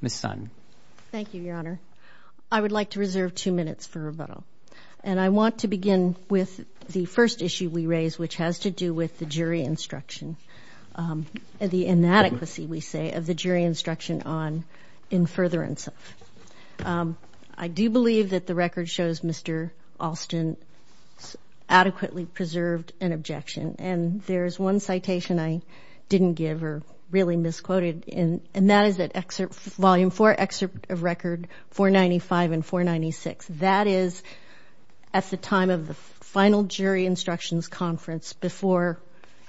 Ms. Sun. Thank you, Your Honor. I would like to reserve two minutes for rebuttal, and I want to begin with the first issue we raised, which has to do with the jury instruction, the inadequacy, we say, of the jury instruction on in furtherance of. I do believe that the record shows Mr. Alston adequately preserved an objection, and there's one citation I didn't give or really misquoted in, and that is that Excerpt Volume 4, Excerpt of Record 495 and 496. That is at the time of the final jury instructions conference before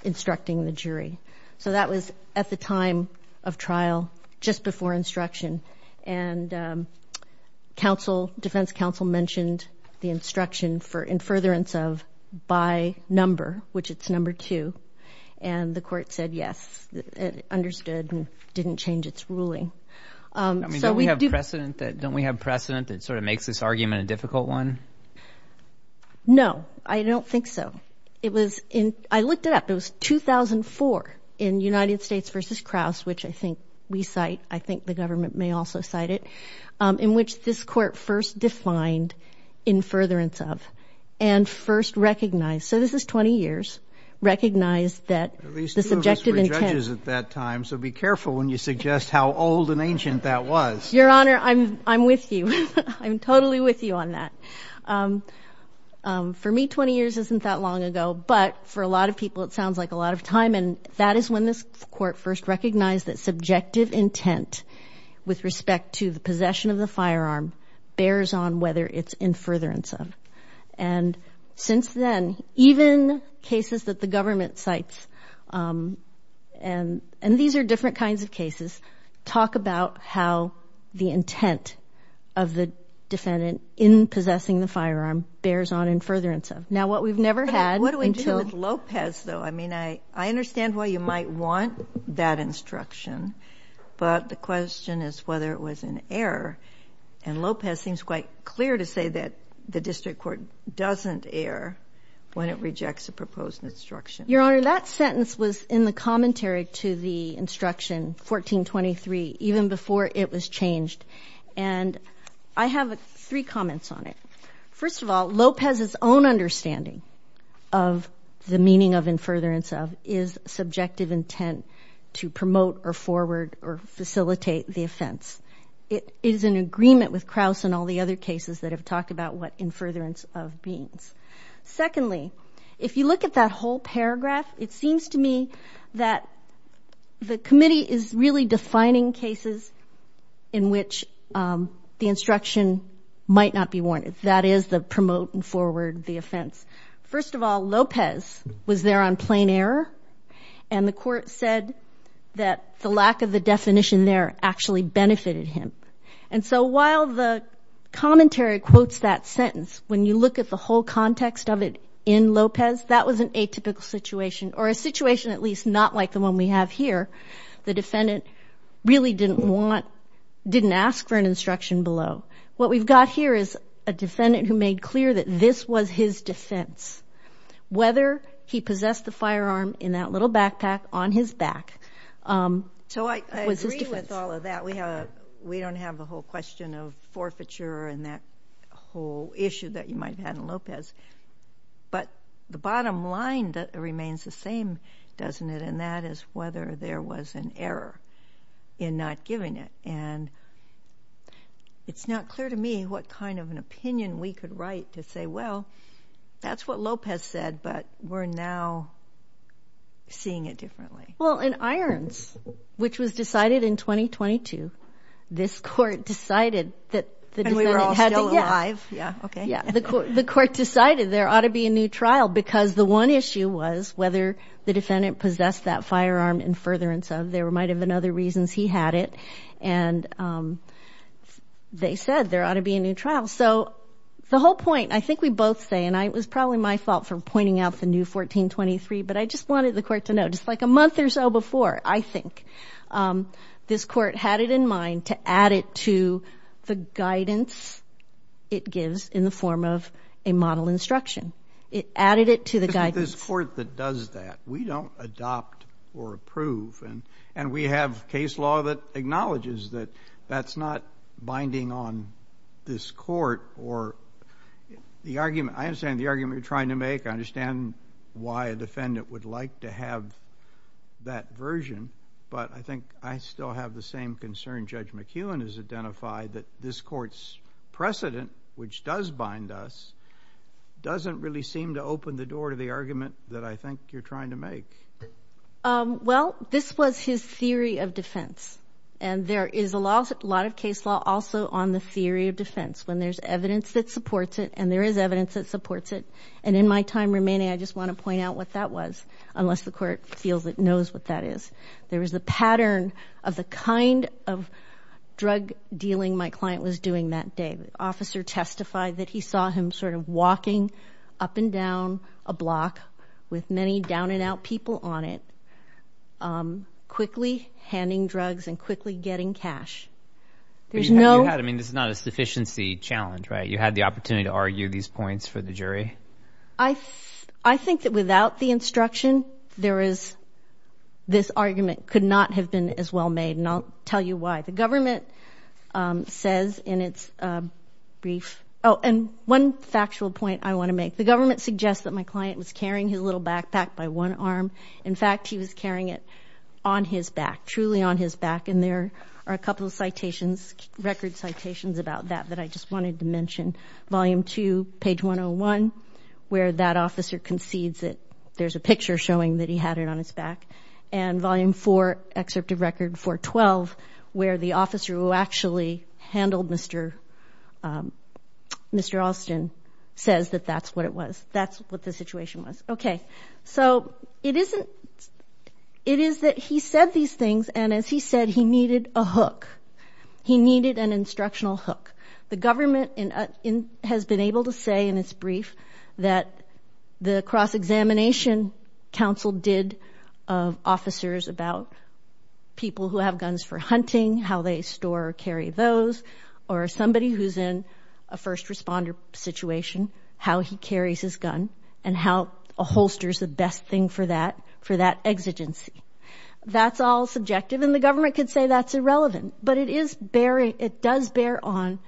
instructing the jury. So that was at the time of trial, just before instruction, and counsel, defense counsel, mentioned the instruction for in furtherance of by number, which it's number two, and the court said yes, understood, and didn't change its ruling. Don't we have precedent that sort of makes this argument a difficult one? No, I don't think so. It was in, I looked it up, it was 2004 in United States v. Krauss, which I think we cite, I think the government may also cite it, in which this court first defined in furtherance of and first recognized, so this is 20 years, recognized that the subjective intent... At least two of us were judges at that time, so be careful when you suggest how old and ancient that was. Your Honor, I'm with you. I'm totally with you on that. For me, 20 years isn't that long ago, but for a lot of people it sounds like a lot of time, and that is when this court first recognized that subjective intent with respect to the possession of the firearm bears on whether it's in furtherance of, and since then, even cases that the government cites, and these are different kinds of cases, talk about how the intent of the defendant in possessing the firearm bears on in furtherance of. Now, what we've never had... What do we do with Lopez, though? I mean, I understand why you might want that instruction, but the question is whether it was an error, and the district court doesn't err when it rejects a proposed instruction. Your Honor, that sentence was in the commentary to the instruction 1423, even before it was changed, and I have three comments on it. First of all, Lopez's own understanding of the meaning of in furtherance of is subjective intent to promote or forward or facilitate the offense. It is in agreement with Krauss and all the other cases that have talked about what in furtherance of means. Secondly, if you look at that whole paragraph, it seems to me that the committee is really defining cases in which the instruction might not be warranted. That is the promote and forward the offense. First of all, Lopez was there on plain error, and the court said that the lack of the definition there actually benefited him. And so while the commentary quotes that sentence, when you look at the whole context of it in Lopez, that was an atypical situation, or a situation at least not like the one we have here. The defendant really didn't want, didn't ask for an instruction below. What we've got here is a defendant who made clear that this was his defense. Whether he possessed the firearm in that little backpack on his back. So I agree with all of that. We have, we don't have the whole question of forfeiture and that whole issue that you might have had in Lopez. But the bottom line that remains the same, doesn't it, and that is whether there was an error in not giving it. And it's not clear to me what kind of an opinion we could write to say, well, that's what Lopez said, but we're now seeing it differently. Well, in Irons, which was decided in 2022, this court decided that the defendant had to... And we were all still alive. Yeah. Okay. Yeah, the court decided there ought to be a new trial because the one issue was whether the defendant possessed that firearm in furtherance of. There might have been other reasons he had it and they said there ought to be a new trial. So the whole point, I think we both say, and it was probably my fault for pointing out the new 1423, but I just wanted the court to know just like a month or so before, I think, this court had it in mind to add it to the guidance it gives in the form of a model instruction. It added it to the guidance. This court that does that, we don't adopt or approve. And we have case law that acknowledges that that's not binding on this court or the argument. I understand the argument you're trying to make. I understand why a defendant would like to have that version, but I think I still have the same concern. Judge McEwen has identified that this court's precedent, which does bind us, doesn't really seem to open the door to the argument that I think you're trying to make. Well, this was his theory of defense. And there is a lot of case law also on the theory of defense when there's evidence that supports it and there is evidence that supports it. And in my time remaining, I just want to point out what that was, unless the court feels it knows what that is. There was a pattern of the kind of drug dealing my client was doing that day. Officer testified that he saw him sort of walking up and down a block with many down and out people on it, quickly handing drugs and quickly getting cash. I mean, this is not a sufficiency challenge, right? You had the opportunity to argue these points for the jury. I think that without the instruction, this argument could not have been as well made. And I'll tell you why. The government says in its brief, oh, and one factual point I want to make. The government suggests that my client was carrying his little backpack by one arm. In fact, he was carrying it on his back, truly on his back. And there are a couple of citations, record citations about that, that I just wanted to mention. Volume two, page 101, where that officer concedes that there's a picture showing that he had it on his back. And volume four, excerpt of record 412, where the officer who actually handled Mr. Alston says that that's what it was. That's what the situation was. Okay. So, it is that he said these things, and as he said, he needed a hook. He needed an instructional hook. The government has been able to say in its brief that the cross-examination council did of officers about people who have guns for hunting, how they store or carry those, or somebody who's in a first responder situation, how he carries his gun, and how a holster is the best thing for that, for that exigency. That's all subjective, and the government could say that's irrelevant. But it is bearing, it does bear on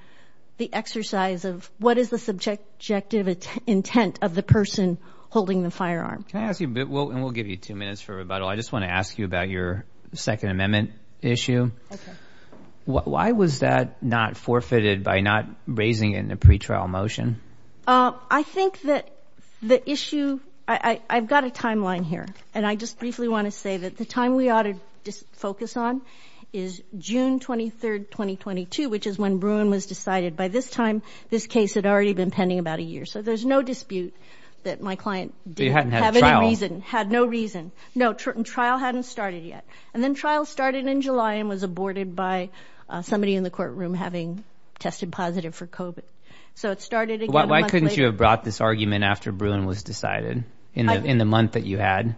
the exercise of what is the subjective intent of the person holding the firearm. Can I ask you a bit, and we'll give you two minutes for rebuttal, I just want to ask you about your Second Amendment issue. Okay. Why was that not forfeited by not raising it in the pretrial motion? I think that the issue, I've got a timeline here, and I just briefly want to say that the time we focus on is June 23rd, 2022, which is when Bruin was decided. By this time, this case had already been pending about a year, so there's no dispute that my client had no reason. No, trial hadn't started yet, and then trial started in July and was aborted by somebody in the courtroom having tested positive for COVID. So it started again. Why couldn't you have brought this argument after Bruin was decided in the month that you had?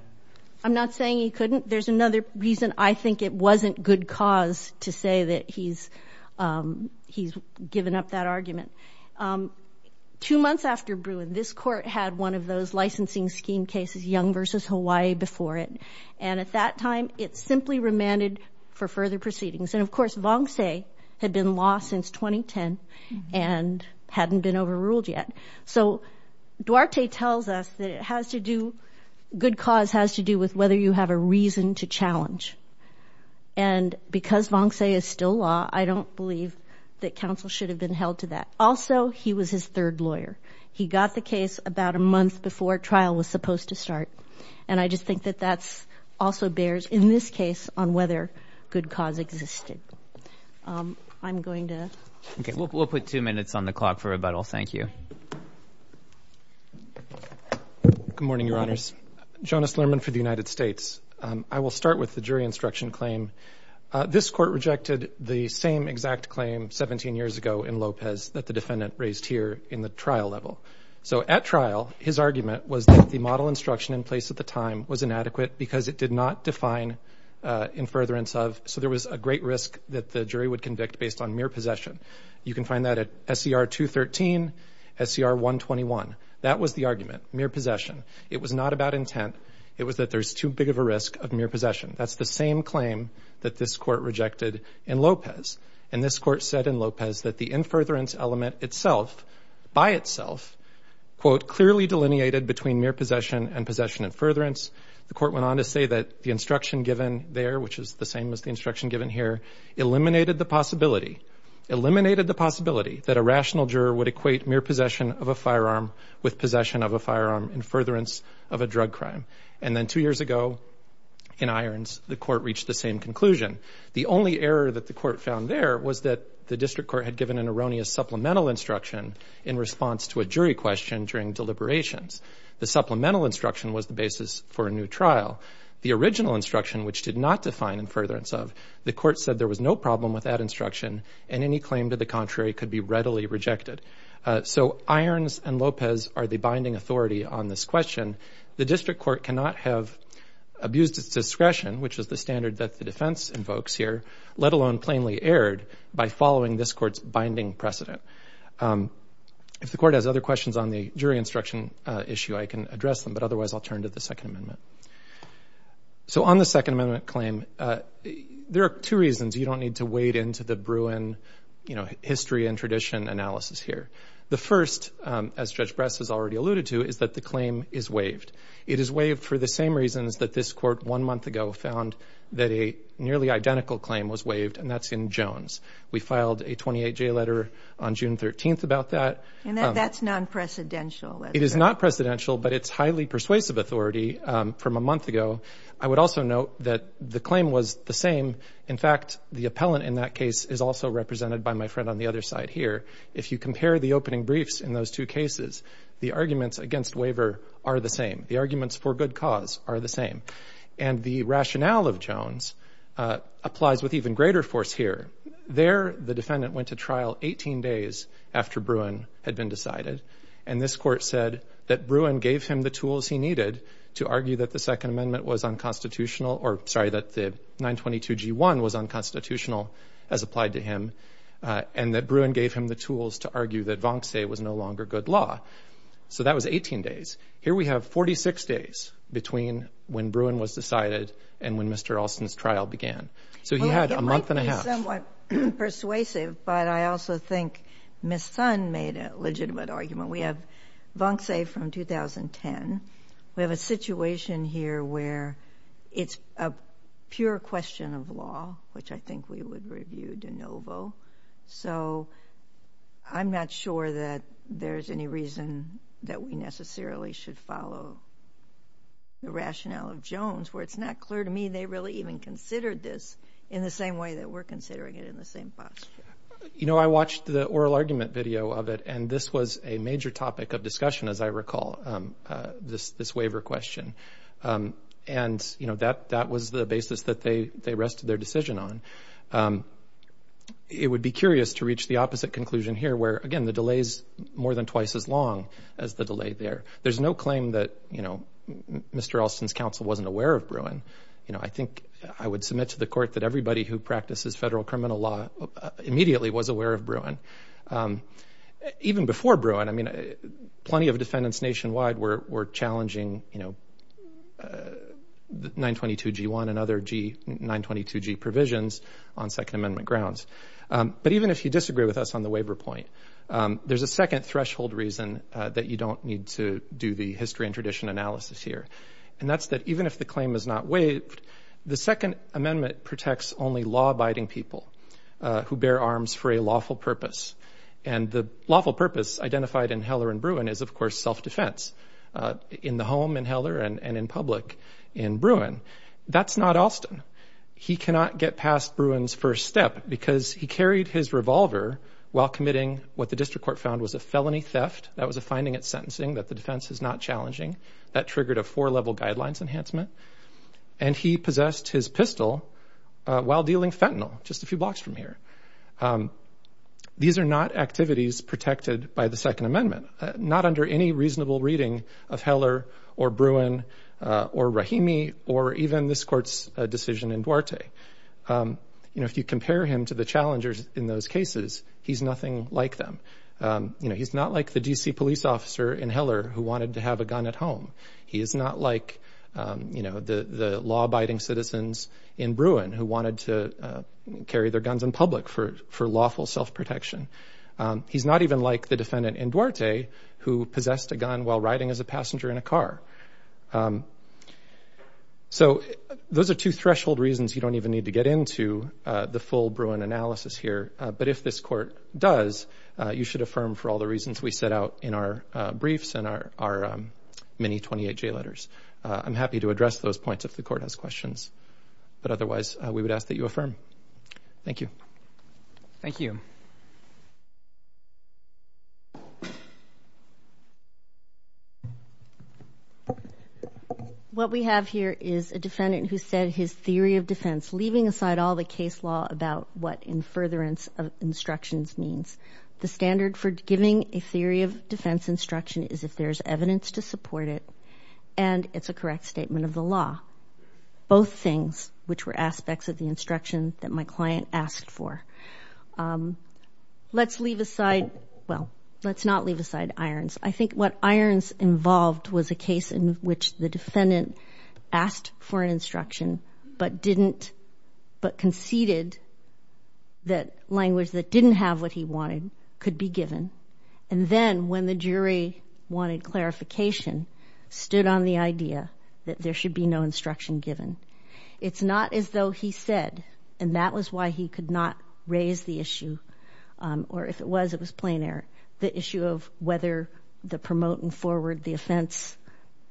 I'm not saying he couldn't. There's another reason I think it wasn't good cause to say that he's given up that argument. Two months after Bruin, this court had one of those licensing scheme cases, Young versus Hawaii, before it. And at that time, it simply remanded for further proceedings. And of course, Vonce had been lost since 2010 and hadn't been overruled yet. So Duarte tells us that good cause has to do with whether you have a reason to challenge. And because Vonce is still law, I don't believe that counsel should have been held to that. Also, he was his third lawyer. He got the case about a month before trial was supposed to start. And I just think that that also bears in this case on whether good cause existed. We'll put two minutes on the clock for rebuttal. Thank you. Good morning, Your Honors. Jonas Lerman for the United States. I will start with the jury instruction claim. This court rejected the same exact claim 17 years ago in Lopez that the defendant raised here in the trial level. So at trial, his argument was that the model instruction in place at the time was inadequate because it did not define in furtherance of. So there was a great risk that the jury would convict based on mere possession. You can find that at SCR 213, SCR 121. That was the argument, mere possession. It was not about intent. It was that there's too big of a risk of mere possession. That's the same claim that this court rejected in Lopez. And this court said in Lopez that the in furtherance element itself by itself, quote, clearly delineated between mere possession and possession in furtherance. The court went on to say that the instruction given there, which is the same as the instruction given here, eliminated the possibility, eliminated the possibility that a rational would equate mere possession of a firearm with possession of a firearm in furtherance of a drug crime. And then two years ago in Irons, the court reached the same conclusion. The only error that the court found there was that the district court had given an erroneous supplemental instruction in response to a jury question during deliberations. The supplemental instruction was the basis for a new trial. The original instruction, which did not define in furtherance of, the court said there was no problem with that instruction and any claim to the contrary could be readily rejected. So Irons and Lopez are the binding authority on this question. The district court cannot have abused its discretion, which is the standard that the defense invokes here, let alone plainly erred by following this court's binding precedent. If the court has other questions on the jury instruction issue, I can address them, but otherwise I'll turn to the second amendment. So on the second amendment claim, there are two don't need to wade into the Bruin, you know, history and tradition analysis here. The first, as Judge Bress has already alluded to, is that the claim is waived. It is waived for the same reasons that this court one month ago found that a nearly identical claim was waived, and that's in Jones. We filed a 28-J letter on June 13th about that. And that's non-precedential. It is not precedential, but it's highly persuasive authority from a month ago. I would also note that the claim was the same. In fact, the appellant in that case is also represented by my friend on the other side here. If you compare the opening briefs in those two cases, the arguments against waiver are the same. The arguments for good cause are the same. And the rationale of Jones applies with even greater force here. There, the defendant went to trial 18 days after Bruin had been decided. And this court said that Bruin gave him the tools he needed to argue that the second amendment was unconstitutional, or sorry, that the 922G1 was unconstitutional as applied to him, and that Bruin gave him the tools to argue that Vonce was no longer good law. So that was 18 days. Here we have 46 days between when Bruin was decided and when Mr. Alston's trial began. So he had a month and a half. It might be somewhat persuasive, but I also think Ms. Sun made a legitimate argument. We have Vonce from 2010. We have a situation here where it's a pure question of law, which I think we would review de novo. So I'm not sure that there's any reason that we necessarily should follow the rationale of Jones, where it's not clear to me they really even considered this in the same way that we're considering it in the same posture. You know, I watched the oral argument video of it, and this was a major topic of discussion, as I recall, this waiver question. And, you know, that was the basis that they rested their decision on. It would be curious to reach the opposite conclusion here, where, again, the delay's more than twice as long as the delay there. There's no claim that, you know, Mr. Alston's counsel wasn't aware of Bruin. You know, I think I would submit to the court that everybody who practices federal criminal law immediately was aware of Bruin. Even before Bruin, I mean, plenty of defendants nationwide were challenging, you know, 922G1 and other 922G provisions on Second Amendment grounds. But even if you disagree with us on the waiver point, there's a second threshold reason that you don't need to do the history and tradition analysis here, and that's that even if the claim is not waived, the Second Amendment protects only law-abiding people who bear arms for a lawful purpose. And the lawful purpose identified in Heller and Bruin is, of course, self-defense in the home in Heller and in public in Bruin. That's not Alston. He cannot get past Bruin's first step because he carried his revolver while committing what the district court found was a felony theft. That was a finding at sentencing that the defense is not challenging. That triggered a four-level guidelines enhancement. And he possessed his pistol while dealing fentanyl just a few blocks from here. These are not activities protected by the Second Amendment, not under any reasonable reading of Heller or Bruin or Rahimi or even this court's decision in Duarte. You know, if you compare him to the challengers in those cases, he's nothing like them. You know, he's not like the D.C. police officer in Heller who wanted to have a gun at home. He is not like, you know, the law-abiding citizens in Bruin who wanted to carry their guns in public for lawful self-protection. He's not even like the defendant in Duarte who possessed a gun while riding as a passenger in a car. So those are two threshold reasons you don't even need to get into the full Bruin analysis here. But this court does, you should affirm for all the reasons we set out in our briefs and our many 28J letters. I'm happy to address those points if the court has questions. But otherwise, we would ask that you affirm. Thank you. Thank you. What we have here is a defendant who said his theory of defense, leaving aside all the case about what in furtherance of instructions means. The standard for giving a theory of defense instruction is if there's evidence to support it and it's a correct statement of the law. Both things, which were aspects of the instruction that my client asked for. Let's leave aside, well, let's not leave aside Irons. I think what Irons involved was a case in which the defendant asked for an instruction but conceded that language that didn't have what he wanted could be given. And then when the jury wanted clarification, stood on the idea that there should be no instruction given. It's not as though he said, and that was why he could not raise the issue. Or if it was, it was plain air. The issue of whether the promote and forward the defense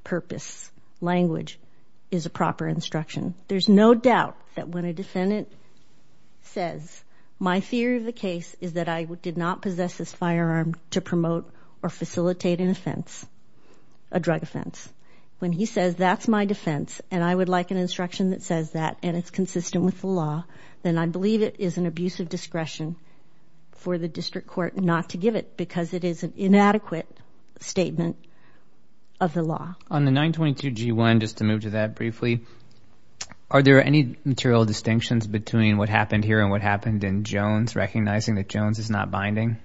purpose language is a proper instruction. There's no doubt that when a defendant says, my theory of the case is that I did not possess this firearm to promote or facilitate an offense, a drug offense. When he says that's my defense and I would like an instruction that says that and it's consistent with the law, then I believe it is an abuse of discretion for the district court not to give it because it is an inadequate statement of the law. On the 922 G1, just to move to that briefly, are there any material distinctions between what happened here and what happened in Jones, recognizing that Jones is not binding?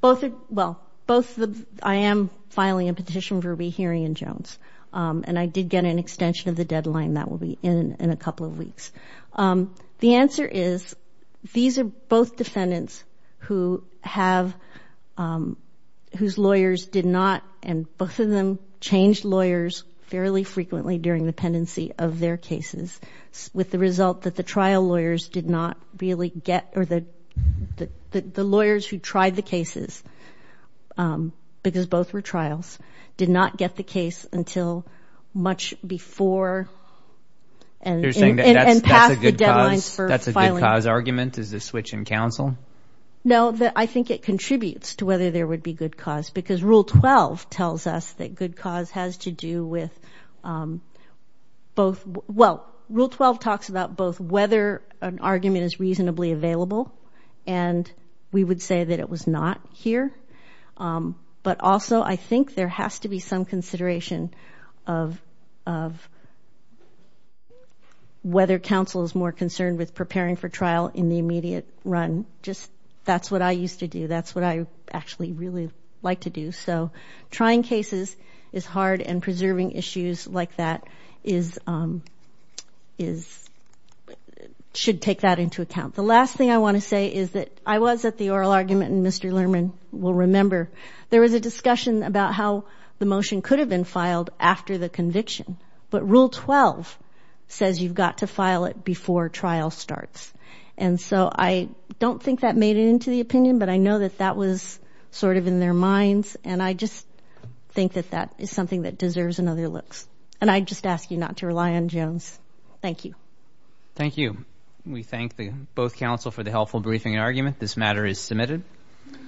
Both, well, both, I am filing a petition for rehearing in Jones and I did get an extension of the deadline that will be in a couple of weeks. The answer is these are both defendants who have, whose lawyers did not, and both of them changed lawyers fairly frequently during the pendency of their cases, with the result that the trial lawyers did not really get or the the lawyers who tried the cases, because both were trials, did not get the case until much before and passed the deadlines for filing. That's a good cause argument, is a switch in counsel? No, I think it contributes to whether there would be good cause because Rule 12 tells us that good cause has to do with both, well, Rule 12 talks about both whether an argument is reasonably available and we would say that it was not here, but also I think there has to be some consideration of whether counsel is more concerned with preparing for trial in the immediate run, just that's what I used to do, that's what I actually really like to do, so trying cases is hard and preserving issues like that is, should take that into account. The last thing I want to say is that I was at the oral argument, and Mr. Lerman will remember, there was a discussion about how the motion could have been filed after the conviction, but Rule 12 says you've got to file it before trial starts, and so I don't think that made it into the opinion, but I know that that was sort of in their minds, and I just think that that is something that deserves another look, and I just ask you not to rely on Jones. Thank you. Thank you. We thank both counsel for the helpful briefing argument. This matter is submitted.